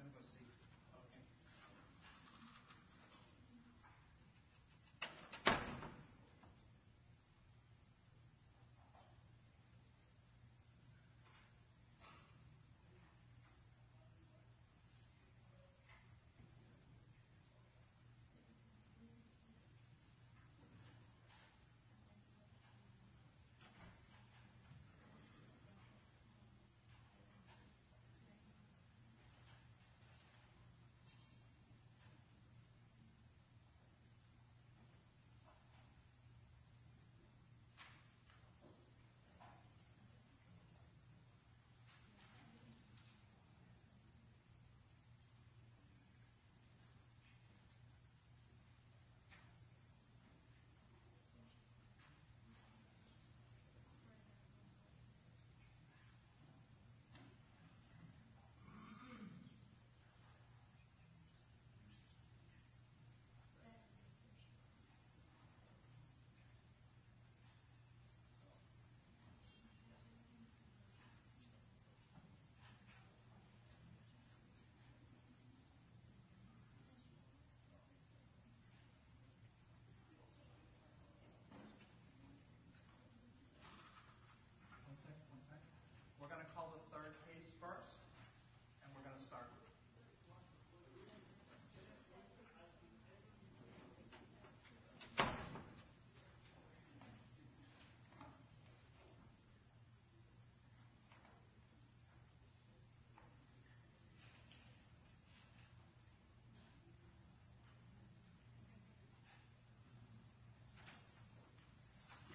I'm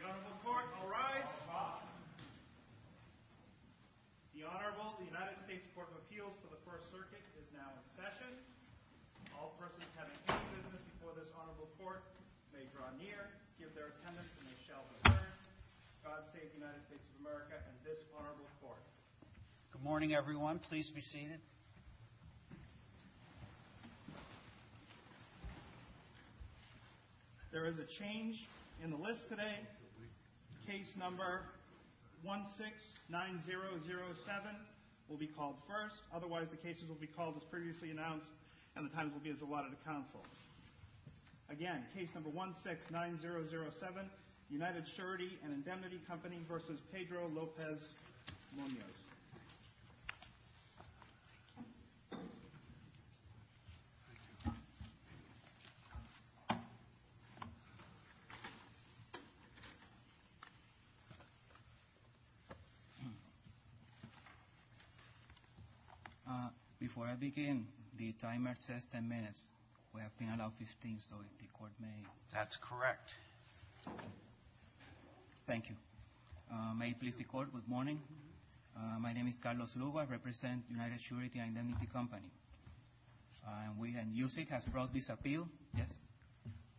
going to go see. Okay. Okay. Okay. Okay. Okay. Okay. Okay. Okay. Okay. Good morning, everyone. Please be seated. There is a change in the list today. Case number 169007 will be called first. Otherwise, the cases will be called as previously announced, and the times will be as allotted to counsel. Again, case number 169007, United Surety and Indemnity Company v. Pedro Lopez Munoz. Thank you. Before I begin, the timer says 10 minutes. We have been allowed 15, so if the court may. That's correct. Thank you. May it please the court. Good morning. My name is Carlos Lugo. I represent United Surety and Indemnity Company. And USIG has brought this appeal. Yes.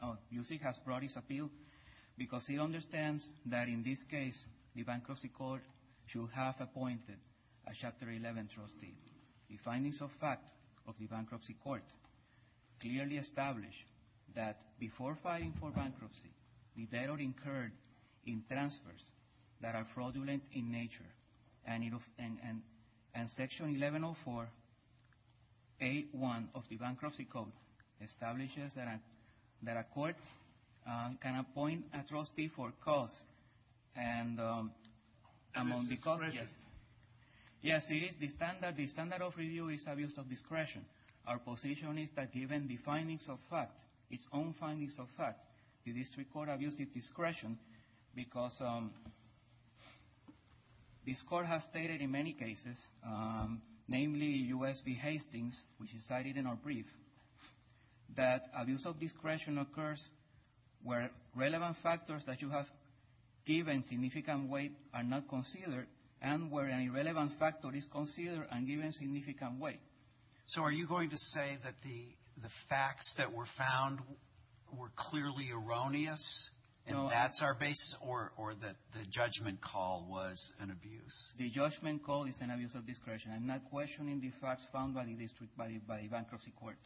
Oh, USIG has brought this appeal because it understands that in this case, the bankruptcy court should have appointed a Chapter 11 trustee. The findings of fact of the bankruptcy court clearly establish that before filing for bankruptcy, the debtor incurred in transfers that are fraudulent in nature. And Section 1104A1 of the bankruptcy code establishes that a court can appoint a trustee for costs. And among the costs, yes. Yes, it is the standard. The standard of review is abuse of discretion. Our position is that given the findings of fact, its own findings of fact, the district court abuses discretion because this court has stated in many cases, namely US v. Hastings, which is cited in our brief, that abuse of discretion occurs where relevant factors that you have given significant weight are not considered and where an irrelevant factor is considered and given significant weight. So are you going to say that the facts that were found were clearly erroneous and that's our basis or that the judgment call was an abuse? The judgment call is an abuse of discretion. I'm not questioning the facts found by the district, by the bankruptcy court.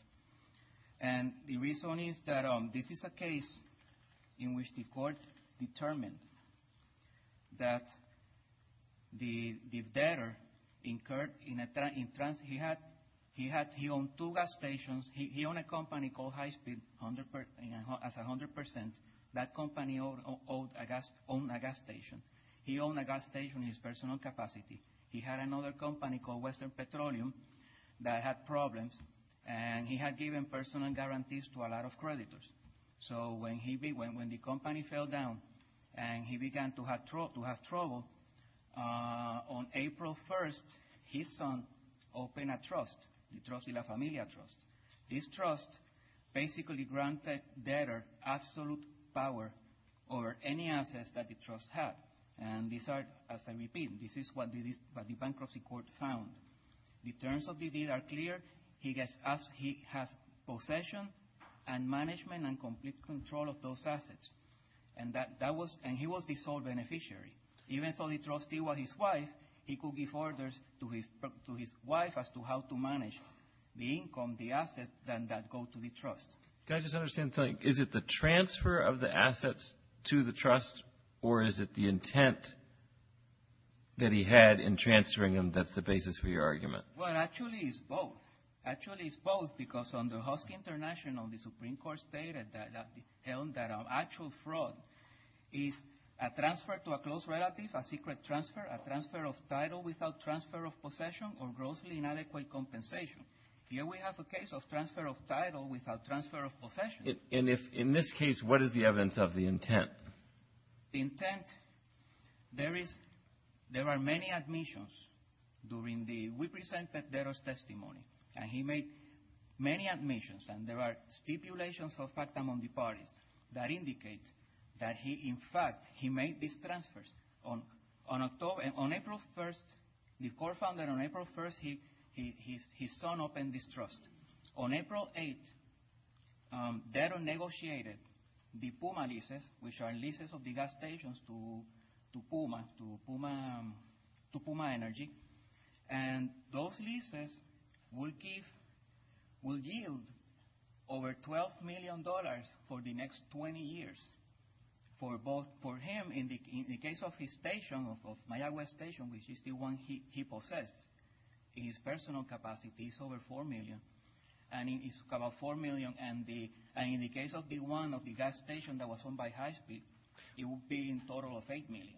And the reason is that this is a case in which the court determined that the debtor incurred in a transfer. He had two gas stations. He owned a company called High Speed as 100%. That company owned a gas station. He owned a gas station in his personal capacity. He had another company called Western Petroleum that had problems, and he had given personal guarantees to a lot of creditors. So when the company fell down and he began to have trouble, on April 1st, his son opened a trust, the Trostila Familia Trust. This trust basically granted debtor absolute power over any assets that the trust had. And these are, as I repeat, this is what the bankruptcy court found. The terms of the deed are clear. He has possession and management and complete control of those assets. And he was the sole beneficiary. Even though the trustee was his wife, he could give orders to his wife as to how to manage the income, the assets that go to the trust. Can I just understand something? Is it the transfer of the assets to the trust, or is it the intent that he had in transferring them that's the basis for your argument? Well, actually, it's both. Actually, it's both because under Husky International, the Supreme Court stated that actual fraud is a transfer to a close relative, a secret transfer, a transfer of title without transfer of possession, or grossly inadequate compensation. Here we have a case of transfer of title without transfer of possession. And in this case, what is the evidence of the intent? The intent, there are many admissions. We presented debtor's testimony, and he made many admissions, and there are stipulations of fact among the parties that indicate that he, in fact, he made these transfers. On April 1st, the court found that on April 1st, his son opened this trust. And on April 8th, debtor negotiated the PUMA leases, which are leases of the gas stations to PUMA, to PUMA Energy. And those leases will give, will yield over $12 million for the next 20 years for both, and for him, in the case of his station, of Mayaguez Station, which is the one he possessed, his personal capacity is over $4 million, and it's about $4 million, and in the case of the one of the gas station that was owned by Husky, it would be in total of $8 million.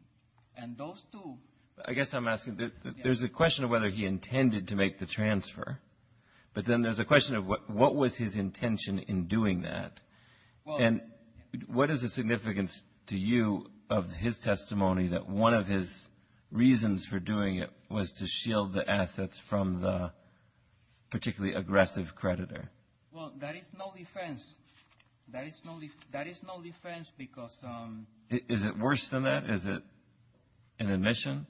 And those two – I guess I'm asking, there's a question of whether he intended to make the transfer, but then there's a question of what was his intention in doing that. And what is the significance to you of his testimony that one of his reasons for doing it was to shield the assets from the particularly aggressive creditor? Well, that is no defense. That is no defense because – Is it worse than that? Is it an admission?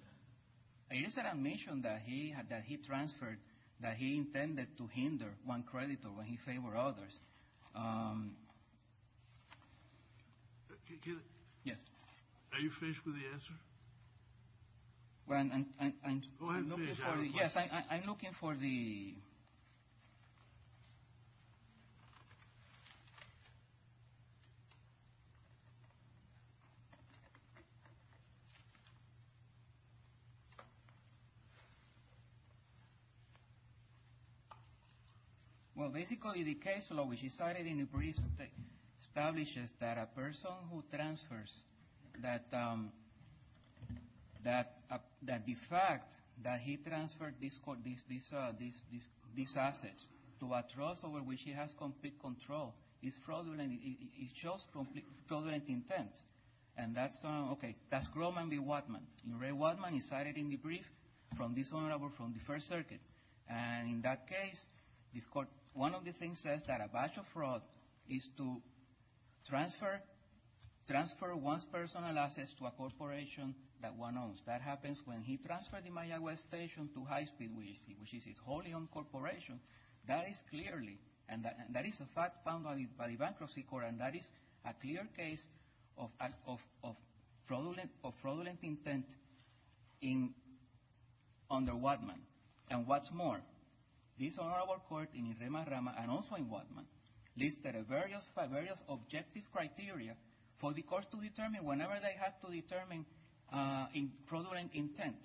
It is an admission that he transferred, that he intended to hinder one creditor when he favored others. Can I – Yes. Are you finished with the answer? Well, I'm looking for the – Go ahead and finish. Yes, I'm looking for the – Well, basically, the case law, which is cited in the brief, establishes that a person who transfers – that the fact that he transferred these assets to a trust over which he has complete control is fraudulent. It shows fraudulent intent. And that's – Okay, that's Grohmann v. Wattman. In Ray Wattman, he cited in the brief from this honorable from the First Circuit. And in that case, this court – One of the things says that a batch of fraud is to transfer one's personal assets to a corporation that one owns. That happens when he transferred the Mayaguez station to High Speed, which is his wholly owned corporation. That is clearly – And that is a fact found by the Bankruptcy Court, and that is a clear case of fraudulent intent under Wattman. And what's more, this honorable court in Irema-Rama and also in Wattman listed various objective criteria for the courts to determine whenever they have to determine fraudulent intent.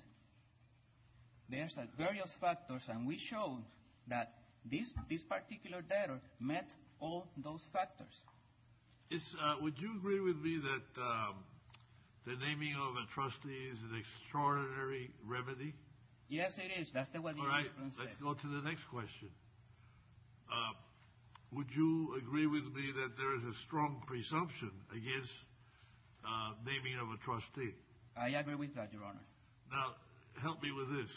There's various factors, and we showed that this particular data met all those factors. Would you agree with me that the naming of a trustee is an extraordinary remedy? Yes, it is. That's exactly what your Honor. All right, let's go to the next question. Would you agree with me that there is a strong presumption against naming of a trustee? I agree with that, Your Honor. Now, help me with this.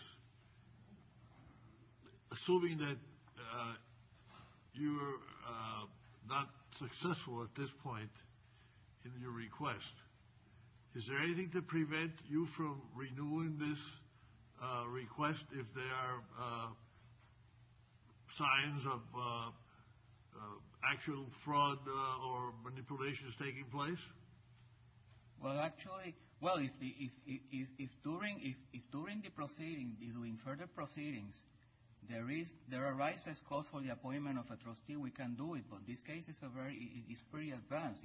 Assuming that you're not successful at this point in your request, is there anything to prevent you from renewing this request if there are signs of actual fraud or manipulations taking place? Well, actually – well, if during the proceeding, during further proceedings, there arises cause for the appointment of a trustee, we can do it. But this case is pretty advanced.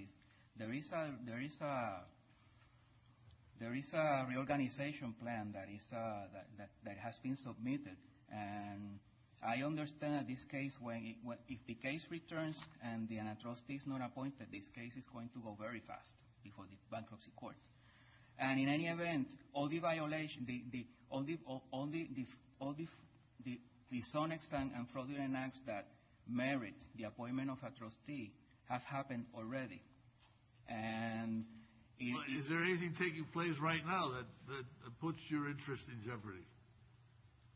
There is a reorganization plan that has been submitted, and I understand that this case, if the case returns and the trustee is not appointed, this case is going to go very fast before the bankruptcy court. And in any event, all the violations – all the dishonest and fraudulent acts that merit the appointment of a trustee have happened already. Is there anything taking place right now that puts your interest in jeopardy?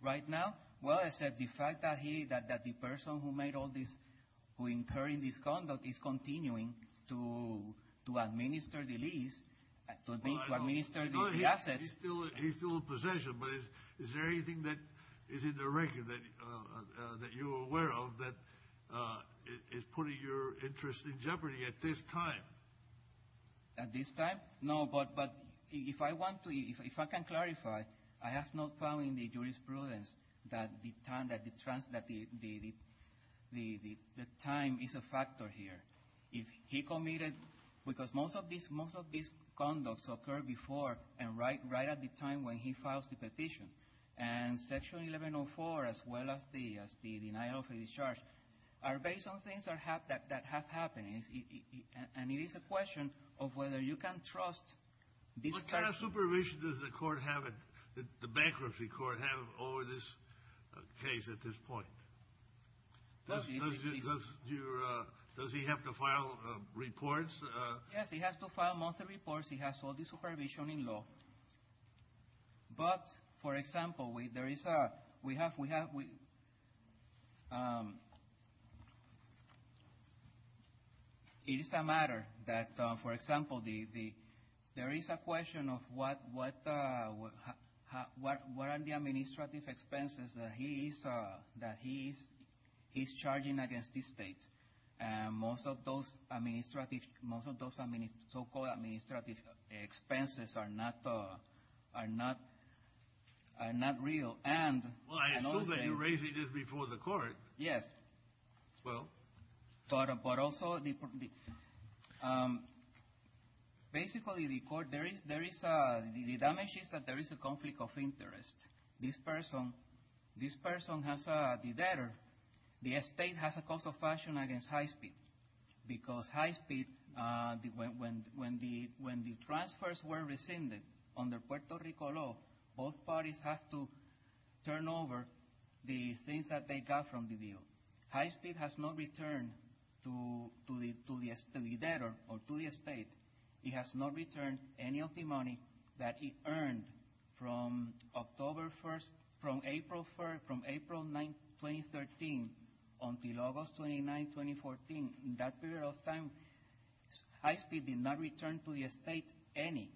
Right now? Well, I said the fact that he – that the person who made all this – who incurred this conduct is continuing to administer the lease, to administer the assets. He's still in possession, but is there anything that is in the record that you're aware of that is putting your interest in jeopardy at this time? At this time? No, but if I want to – if I can clarify, I have not found in the jurisprudence that the time is a factor here. He committed – because most of these conducts occurred before and right at the time when he filed the petition. And Section 1104, as well as the denial of a discharge, are based on things that have happened. And it is a question of whether you can trust this person. What kind of supervision does the court have – the bankruptcy court have over this case at this point? Does he have to file reports? Yes, he has to file monthly reports. He has all the supervision in law. But, for example, there is a – we have – it is a matter that, for example, there is a question of what are the administrative expenses that he is charging against the state. Most of those administrative – most of those so-called administrative expenses are not – are not real. And – Well, I assume that you're raising this before the court. Yes. Well? But also the – basically, the court – there is – the damage is that there is a conflict of interest. This person – this person has the debtor. The state has a cause of action against high speed because high speed – when the transfers were rescinded under Puerto Rico law, both parties have to turn over the things that they got from the deal. High speed has no return to the debtor or to the state. It has not returned any of the money that he earned from October 1st – from April 1st – from April 9th, 2013 until August 29th, 2014. In that period of time, high speed did not return to the state any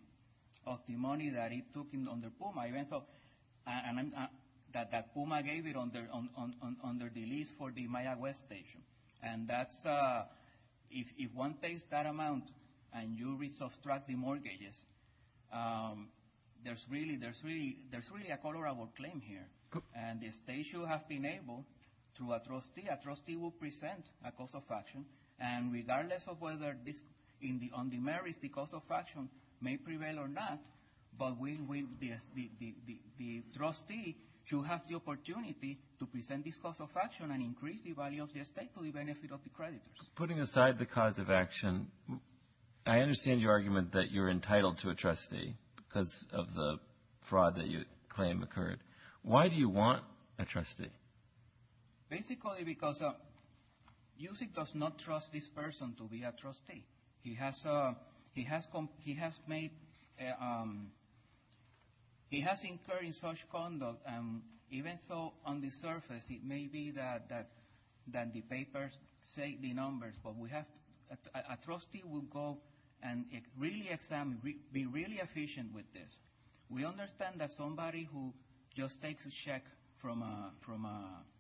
of the money that it took under PUMA. And that PUMA gave it under the lease for the Mayaguez station. And that's – if one takes that amount and you re-subtract the mortgages, there's really – there's really – there's really a colorable claim here. And the state should have been able to – a trustee – a trustee will present a cause of action. And regardless of whether this – on the merits, the cause of action may prevail or not, but the trustee should have the opportunity to present this cause of action and increase the value of the estate to the benefit of the creditors. Putting aside the cause of action, I understand your argument that you're entitled to a trustee because of the fraud that you claim occurred. Why do you want a trustee? Basically because Yusef does not trust this person to be a trustee. He has – he has – he has made – he has incurred such conduct, and even though on the surface it may be that the papers say the numbers, but we have – a trustee will go and really examine – be really efficient with this. We understand that somebody who just takes a check from a –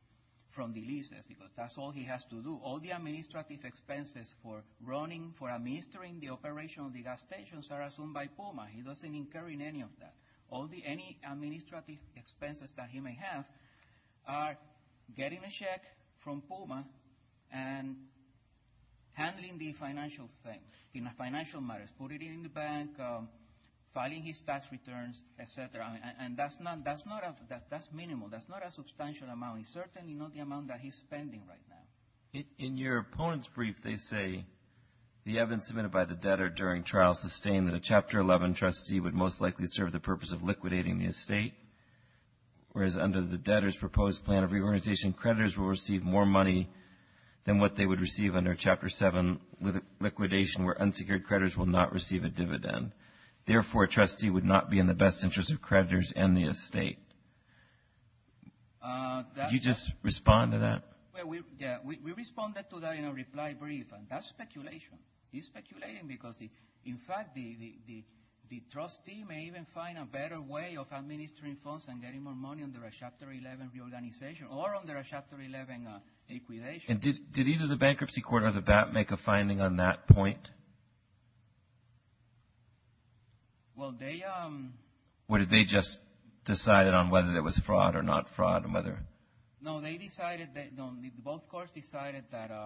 from the lease, that's all he has to do. All the administrative expenses for running, for administering the operation of the gas stations are assumed by PUMA. He doesn't incur in any of that. All the – any administrative expenses that he may have are getting a check from PUMA and handling the financial thing, the financial matters, putting it in the bank, filing his tax returns, et cetera. And that's not – that's not a – that's minimal. That's not a substantial amount. It's certainly not the amount that he's spending right now. In your opponent's brief, they say, the evidence submitted by the debtor during trial sustained that a Chapter 11 trustee would most likely serve the purpose of liquidating the estate, whereas under the debtor's proposed plan of reorganization, creditors will receive more money than what they would receive under Chapter 7 liquidation, where unsecured creditors will not receive a dividend. Therefore, a trustee would not be in the best interest of creditors and the estate. Could you just respond to that? Yeah, we responded to that in a reply brief, and that's speculation. He's speculating because, in fact, the trustee may even find a better way of administering funds and getting more money under a Chapter 11 reorganization or under a Chapter 11 liquidation. And did either the bankruptcy court or the BAP make a finding on that point? Well, they – Or did they just decide it on whether there was fraud or not fraud and whether – No, they decided – both courts decided that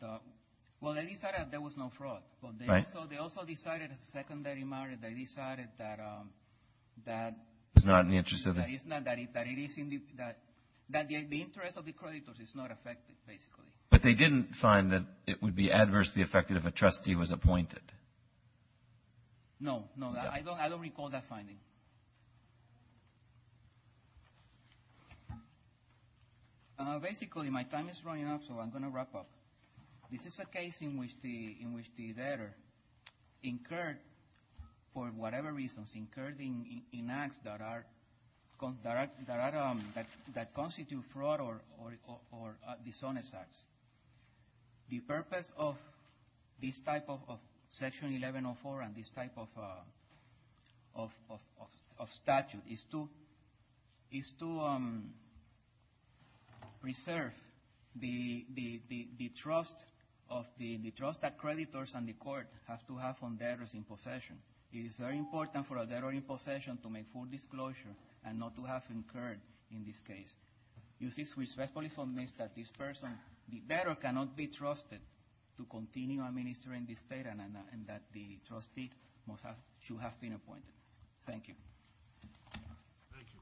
– well, they decided there was no fraud. Right. They also decided as a secondary matter, they decided that – It was not in the interest of the – That it is in the – that the interest of the creditors is not affected, basically. But they didn't find that it would be adversely affected if a trustee was appointed. No, no, I don't recall that finding. Basically, my time is running out, so I'm going to wrap up. This is a case in which the debtor incurred for whatever reasons, incurred in acts that are – that constitute fraud or dishonest acts. The purpose of this type of Section 1104 and this type of statute is to preserve the trust of the – the trust that creditors and the court have to have on debtors in possession. It is very important for a debtor in possession to make full disclosure and not to have incurred in this case. You see, we respectfully submit that this person, the debtor, cannot be trusted to continue administering this debt and that the trustee must have – should have been appointed. Thank you. Thank you.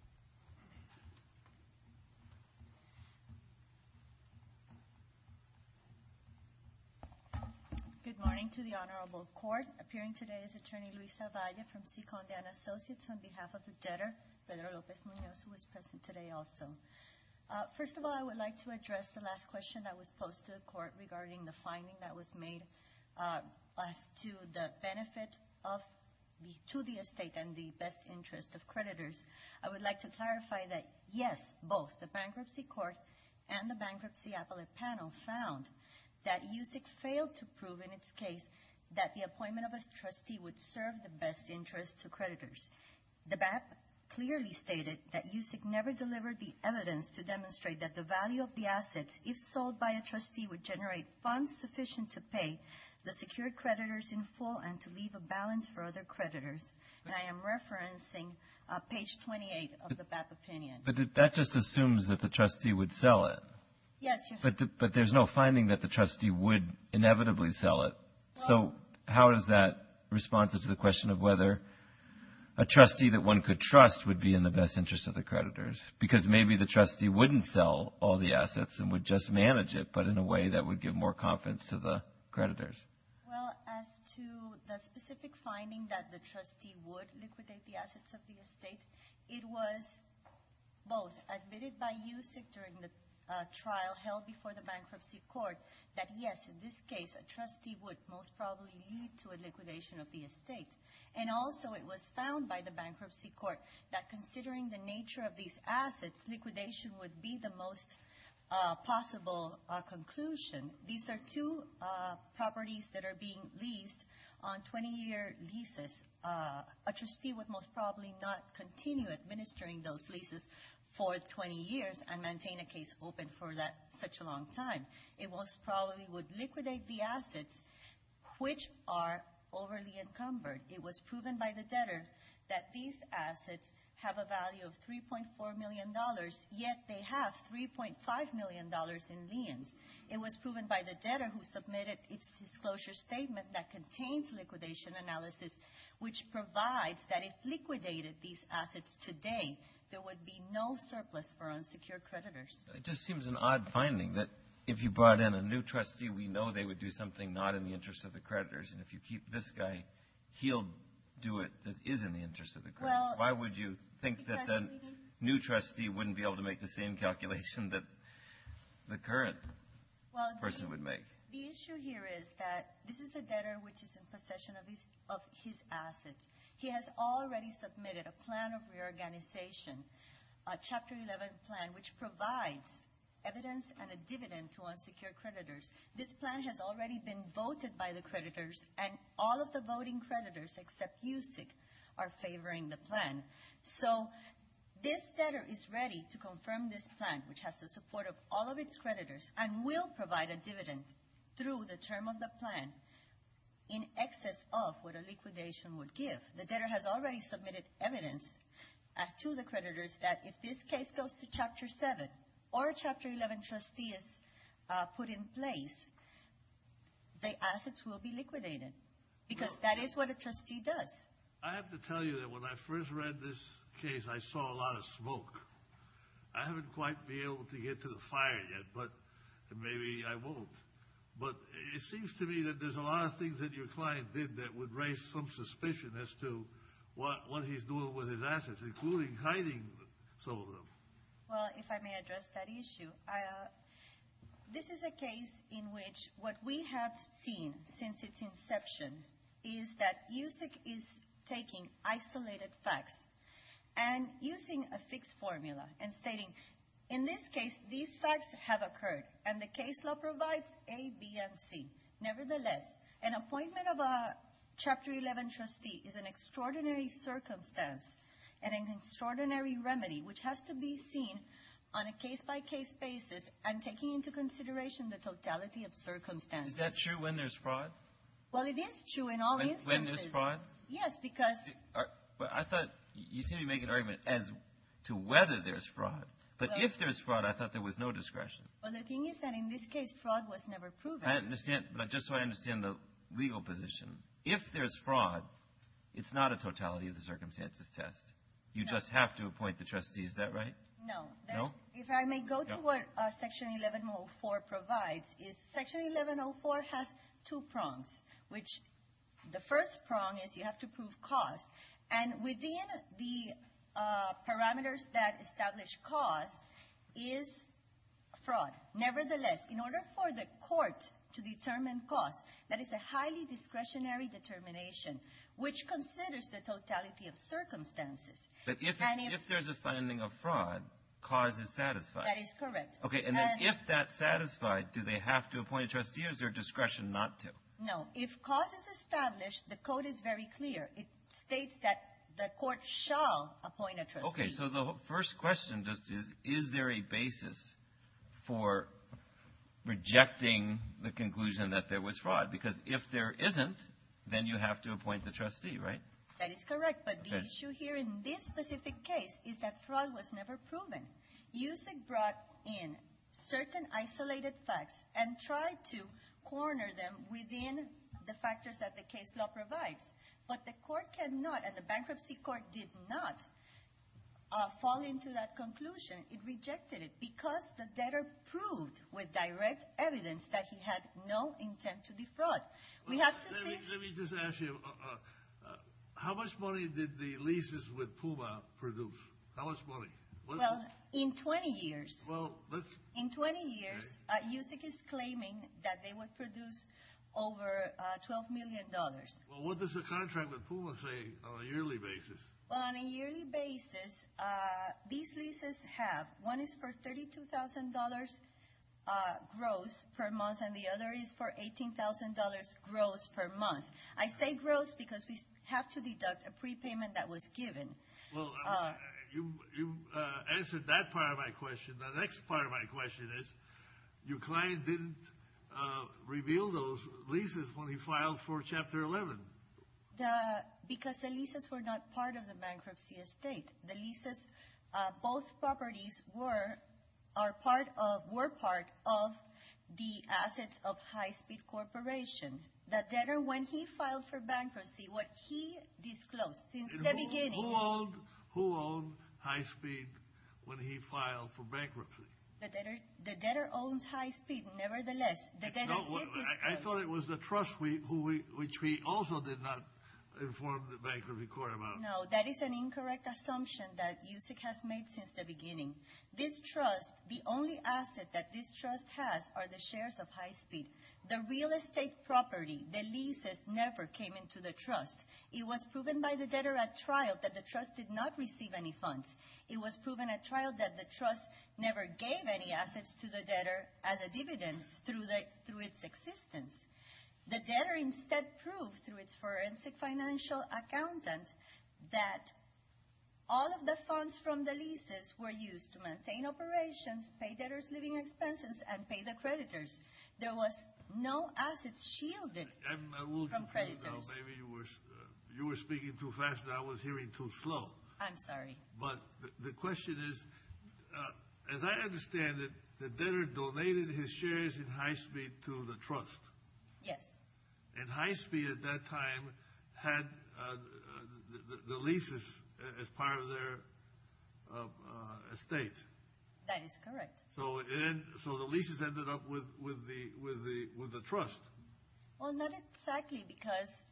Good morning to the Honorable Court. Appearing today is Attorney Luisa Valle from Ciconda & Associates on behalf of the debtor, Pedro Lopez Munoz, who is present today also. First of all, I would like to address the last question that was posed to the Court regarding the finding that was made as to the benefit of – to the estate and the best interest of creditors. I would like to clarify that, yes, both the Bankruptcy Court and the Bankruptcy Appellate Panel found that USIC failed to prove, in its case, that the appointment of a trustee would serve the best interest to creditors. The BAP clearly stated that USIC never delivered the evidence to demonstrate that the value of the assets, if sold by a trustee, would generate funds sufficient to pay the secured creditors in full and to leave a balance for other creditors. And I am referencing page 28 of the BAP opinion. But that just assumes that the trustee would sell it. Yes. But there is no finding that the trustee would inevitably sell it. So how is that responsive to the question of whether a trustee that one could trust would be in the best interest of the creditors? Because maybe the trustee wouldn't sell all the assets and would just manage it, but in a way that would give more confidence to the creditors. Well, as to the specific finding that the trustee would liquidate the assets of the estate, it was both. It was admitted by USIC during the trial held before the bankruptcy court that, yes, in this case a trustee would most probably lead to a liquidation of the estate. And also it was found by the bankruptcy court that considering the nature of these assets, liquidation would be the most possible conclusion. These are two properties that are being leased on 20-year leases. A trustee would most probably not continue administering those leases for 20 years and maintain a case open for that such a long time. It most probably would liquidate the assets which are overly encumbered. It was proven by the debtor that these assets have a value of $3.4 million, yet they have $3.5 million in liens. It was proven by the debtor who submitted its disclosure statement that contains liquidation analysis, which provides that if liquidated these assets today, there would be no surplus for unsecured creditors. It just seems an odd finding that if you brought in a new trustee, we know they would do something not in the interest of the creditors. And if you keep this guy, he'll do it that is in the interest of the creditors. Why would you think that the new trustee wouldn't be able to make the same calculation that the current person would make? The issue here is that this is a debtor which is in possession of his assets. He has already submitted a plan of reorganization, a Chapter 11 plan, which provides evidence and a dividend to unsecured creditors. This plan has already been voted by the creditors, and all of the voting creditors except USIC are favoring the plan. So this debtor is ready to confirm this plan, which has the support of all of its creditors, and will provide a dividend through the term of the plan in excess of what a liquidation would give. The debtor has already submitted evidence to the creditors that if this case goes to Chapter 7 or a Chapter 11 trustee is put in place, the assets will be liquidated because that is what a trustee does. I have to tell you that when I first read this case, I saw a lot of smoke. I haven't quite been able to get to the fire yet, but maybe I won't. But it seems to me that there's a lot of things that your client did that would raise some suspicion as to what he's doing with his assets, including hiding some of them. Well, if I may address that issue, this is a case in which what we have seen since its inception is that USIC is taking isolated facts and using a fixed formula and stating, in this case, these facts have occurred, and the case law provides A, B, and C. Nevertheless, an appointment of a Chapter 11 trustee is an extraordinary circumstance and an extraordinary remedy, which has to be seen on a case-by-case basis and taking into consideration the totality of circumstances. Is that true when there's fraud? Well, it is true in all instances. When there's fraud? Yes, because I thought you seemed to be making an argument as to whether there's fraud. But if there's fraud, I thought there was no discretion. Well, the thing is that in this case, fraud was never proven. I understand, but just so I understand the legal position. If there's fraud, it's not a totality of the circumstances test. You just have to appoint the trustee. Is that right? No. No? If I may go to what Section 1104 provides is Section 1104 has two prongs, which the first prong is you have to prove cause. And within the parameters that establish cause is fraud. Nevertheless, in order for the court to determine cause, that is a highly discretionary determination, which considers the totality of circumstances. But if there's a finding of fraud, cause is satisfied. That is correct. Okay. And if that's satisfied, do they have to appoint a trustee or is there discretion not to? No. If cause is established, the code is very clear. It states that the court shall appoint a trustee. Okay. So the first question just is, is there a basis for rejecting the conclusion that there was fraud? Because if there isn't, then you have to appoint the trustee, right? That is correct. But the issue here in this specific case is that fraud was never proven. USIG brought in certain isolated facts and tried to corner them within the factors that the case law provides. But the court cannot and the bankruptcy court did not fall into that conclusion. It rejected it because the debtor proved with direct evidence that he had no intent to defraud. Let me just ask you, how much money did the leases with PUMA produce? How much money? Well, in 20 years. In 20 years, USIG is claiming that they would produce over $12 million. Well, what does the contract with PUMA say on a yearly basis? On a yearly basis, these leases have, one is for $32,000 gross per month and the other is for $18,000 gross per month. I say gross because we have to deduct a prepayment that was given. Well, you answered that part of my question. The next part of my question is, your client didn't reveal those leases when he filed for Chapter 11. Because the leases were not part of the bankruptcy estate. The leases, both properties were part of the assets of High Speed Corporation. The debtor, when he filed for bankruptcy, what he disclosed since the beginning. Who owned High Speed when he filed for bankruptcy? The debtor owns High Speed nevertheless. I thought it was the trust which we also did not inform the bankruptcy court about. No, that is an incorrect assumption that USIG has made since the beginning. This trust, the only asset that this trust has are the shares of High Speed. The real estate property, the leases, never came into the trust. It was proven by the debtor at trial that the trust did not receive any funds. It was proven at trial that the trust never gave any assets to the debtor as a dividend through its existence. The debtor instead proved through its forensic financial accountant that all of the funds from the leases were used to maintain operations, pay debtor's living expenses, and pay the creditors. There was no assets shielded from creditors. Maybe you were speaking too fast and I was hearing too slow. I'm sorry. But the question is, as I understand it, the debtor donated his shares in High Speed to the trust. Yes. And High Speed at that time had the leases as part of their estate. That is correct. So the leases ended up with the trust. Well, not exactly because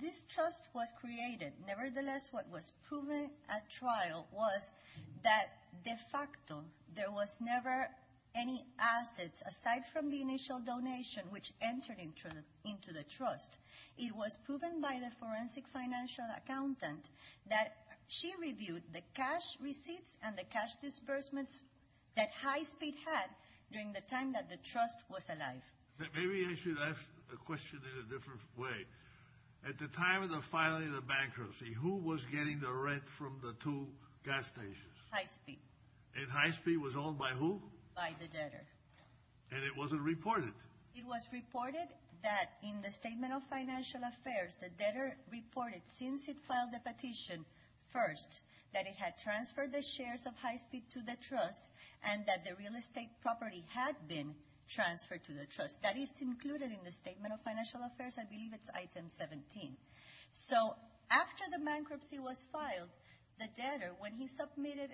this trust was created. Nevertheless, what was proven at trial was that de facto there was never any assets, aside from the initial donation, which entered into the trust. It was proven by the forensic financial accountant that she reviewed the cash receipts and the cash disbursements that High Speed had during the time that the trust was alive. Maybe I should ask the question in a different way. At the time of the filing of bankruptcy, who was getting the rent from the two gas stations? High Speed. And High Speed was owned by who? By the debtor. And it wasn't reported? It was reported that in the Statement of Financial Affairs, the debtor reported since it filed the petition first that it had transferred the shares of High Speed to the trust and that the real estate property had been transferred to the trust. That is included in the Statement of Financial Affairs. I believe it's item 17. So after the bankruptcy was filed, the debtor, when he submitted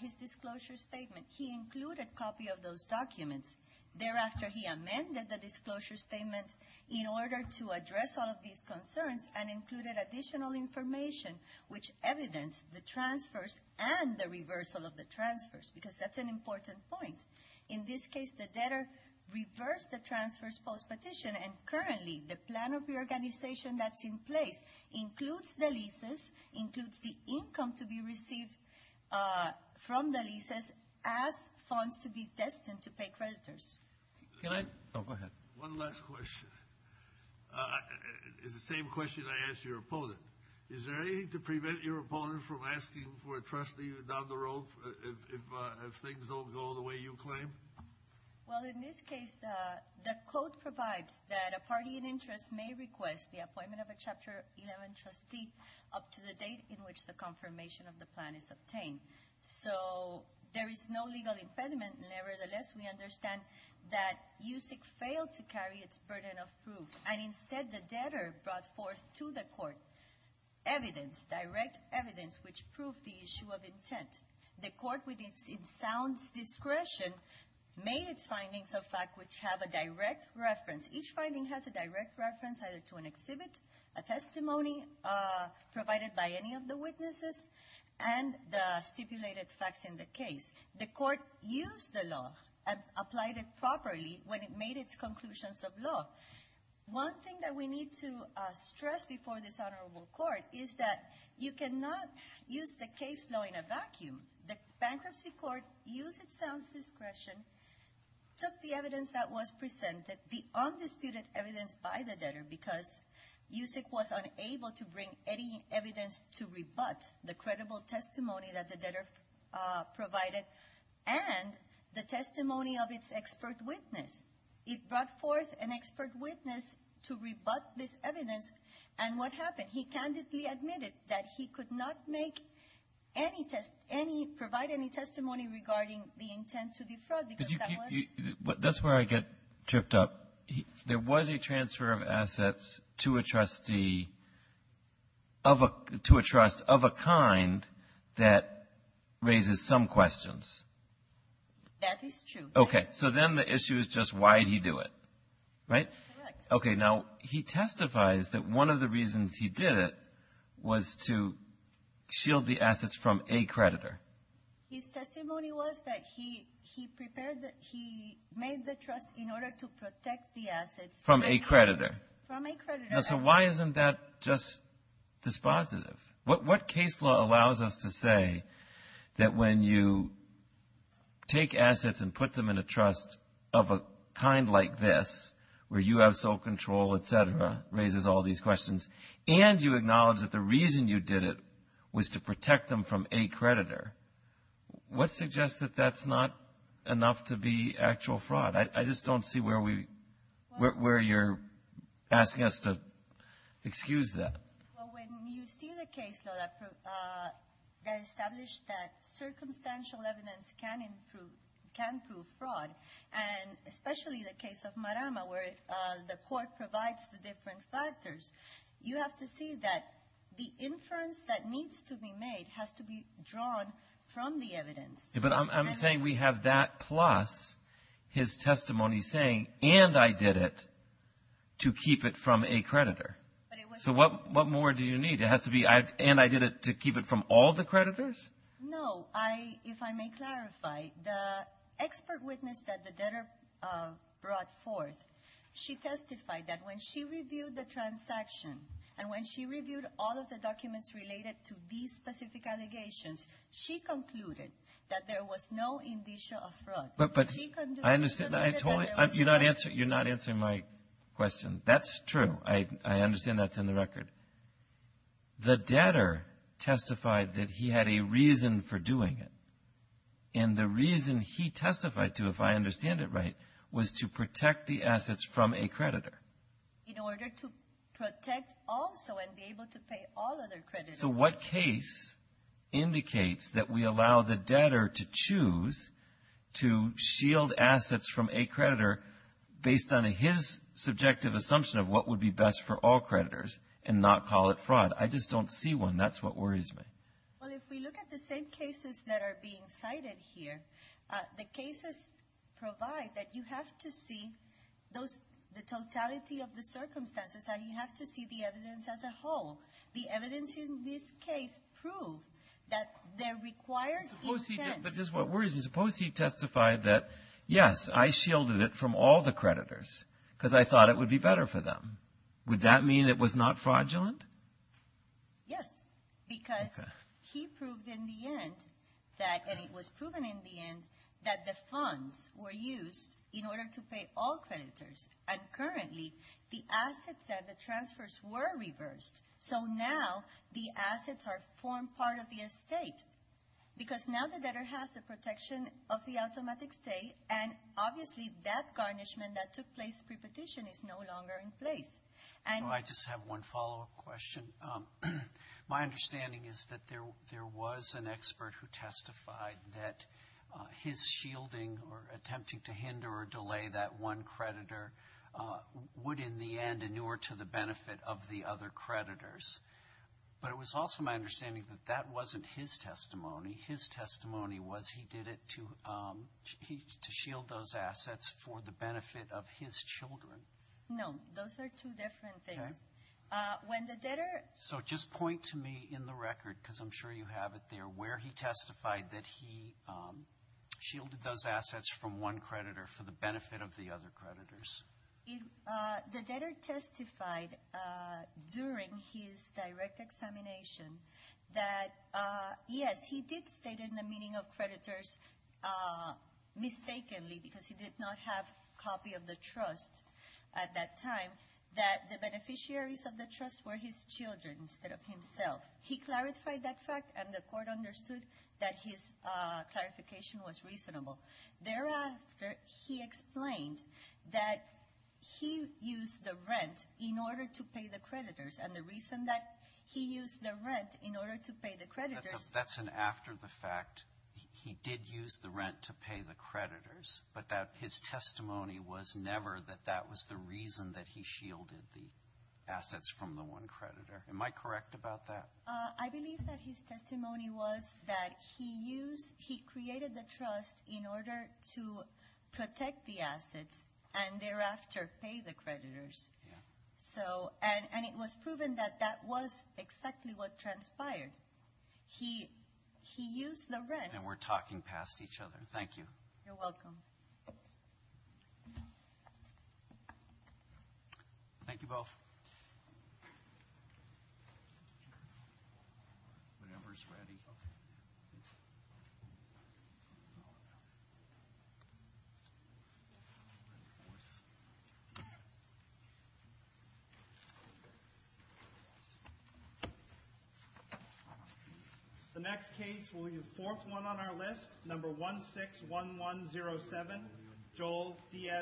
his disclosure statement, he included a copy of those documents. Thereafter, he amended the disclosure statement in order to address all of these concerns and included additional information which evidenced the transfers and the reversal of the transfers, because that's an important point. In this case, the debtor reversed the transfers post-petition, and currently the plan of reorganization that's in place includes the leases, includes the income to be received from the leases as funds to be destined to pay creditors. Can I? Go ahead. One last question. It's the same question I asked your opponent. Is there anything to prevent your opponent from asking for a trustee down the road if things don't go the way you claim? Well, in this case, the code provides that a party in interest may request the appointment of a Chapter 11 trustee up to the date in which the confirmation of the plan is obtained. So there is no legal impediment. Nevertheless, we understand that USIC failed to carry its burden of proof, and instead the debtor brought forth to the court evidence, direct evidence, which proved the issue of intent. The court, with its sound discretion, made its findings a fact which have a direct reference. Each finding has a direct reference either to an exhibit, a testimony provided by any of the witnesses, and the stipulated facts in the case. The court used the law and applied it properly when it made its conclusions of law. One thing that we need to stress before this honorable court is that you cannot use the case law in a vacuum. The bankruptcy court used its sound discretion, took the evidence that was presented, the undisputed evidence by the debtor, because USIC was unable to bring any evidence to rebut the credible testimony that the debtor provided and the testimony of its expert witness. It brought forth an expert witness to rebut this evidence, and what happened? He candidly admitted that he could not make any test, provide any testimony regarding the intent to defraud. That's where I get tripped up. There was a transfer of assets to a trustee of a kind that raises some questions. That is true. Okay. So then the issue is just why did he do it, right? Correct. Okay. Now, he testifies that one of the reasons he did it was to shield the assets from a creditor. His testimony was that he made the trust in order to protect the assets. From a creditor. From a creditor. Now, so why isn't that just dispositive? What case law allows us to say that when you take assets and put them in a trust of a kind like this, where you have sole control, et cetera, raises all these questions, and you acknowledge that the reason you did it was to protect them from a creditor, what suggests that that's not enough to be actual fraud? I just don't see where you're asking us to excuse that. Well, when you see the case law that established that circumstantial evidence can prove fraud, and especially the case of Marama where the court provides the different factors, you have to see that the inference that needs to be made has to be drawn from the evidence. But I'm saying we have that plus his testimony saying, and I did it to keep it from a creditor. So what more do you need? It has to be, and I did it to keep it from all the creditors? No. So if I may clarify, the expert witness that the debtor brought forth, she testified that when she reviewed the transaction and when she reviewed all of the documents related to these specific allegations, she concluded that there was no indicia of fraud. But I understand. You're not answering my question. That's true. I understand that's in the record. The debtor testified that he had a reason for doing it, and the reason he testified to, if I understand it right, was to protect the assets from a creditor. In order to protect also and be able to pay all other creditors. So what case indicates that we allow the debtor to choose to shield assets from a creditor based on his subjective assumption of what would be best for all creditors and not call it fraud? I just don't see one. That's what worries me. Well, if we look at the same cases that are being cited here, the cases provide that you have to see the totality of the circumstances and you have to see the evidence as a whole. The evidence in this case proved that there requires intent. But this is what worries me. Suppose he testified that, yes, I shielded it from all the creditors because I thought it would be better for them. Would that mean it was not fraudulent? Yes, because he proved in the end that, and it was proven in the end, that the funds were used in order to pay all creditors. And currently, the assets that the transfers were reversed, so now the assets are formed part of the estate. Because now the debtor has the protection of the automatic stay, and obviously that garnishment that took place pre-petition is no longer in place. I just have one follow-up question. My understanding is that there was an expert who testified that his shielding or attempting to hinder or delay that one creditor would, in the end, inure to the benefit of the other creditors. But it was also my understanding that that wasn't his testimony. His testimony was he did it to shield those assets for the benefit of his children. No, those are two different things. Okay. So just point to me in the record, because I'm sure you have it there, where he testified that he shielded those assets from one creditor for the benefit of the other creditors. The debtor testified during his direct examination that, yes, he did state in the meeting of creditors, mistakenly, because he did not have a copy of the trust at that time, that the beneficiaries of the trust were his children instead of himself. He clarified that fact, and the court understood that his clarification was reasonable. Thereafter, he explained that he used the rent in order to pay the creditors, and the reason that he used the rent in order to pay the creditors was because he did not have a copy of the trust. That's an after-the-fact, he did use the rent to pay the creditors, but that his testimony was never that that was the reason that he shielded the assets from the one creditor. Am I correct about that? I believe that his testimony was that he created the trust in order to protect the assets and thereafter pay the creditors. And it was proven that that was exactly what transpired. He used the rent. And we're talking past each other. Thank you. You're welcome. Thank you both. The number's ready. The next case, we'll do fourth one on our list. Number 161107, Joel Diaz.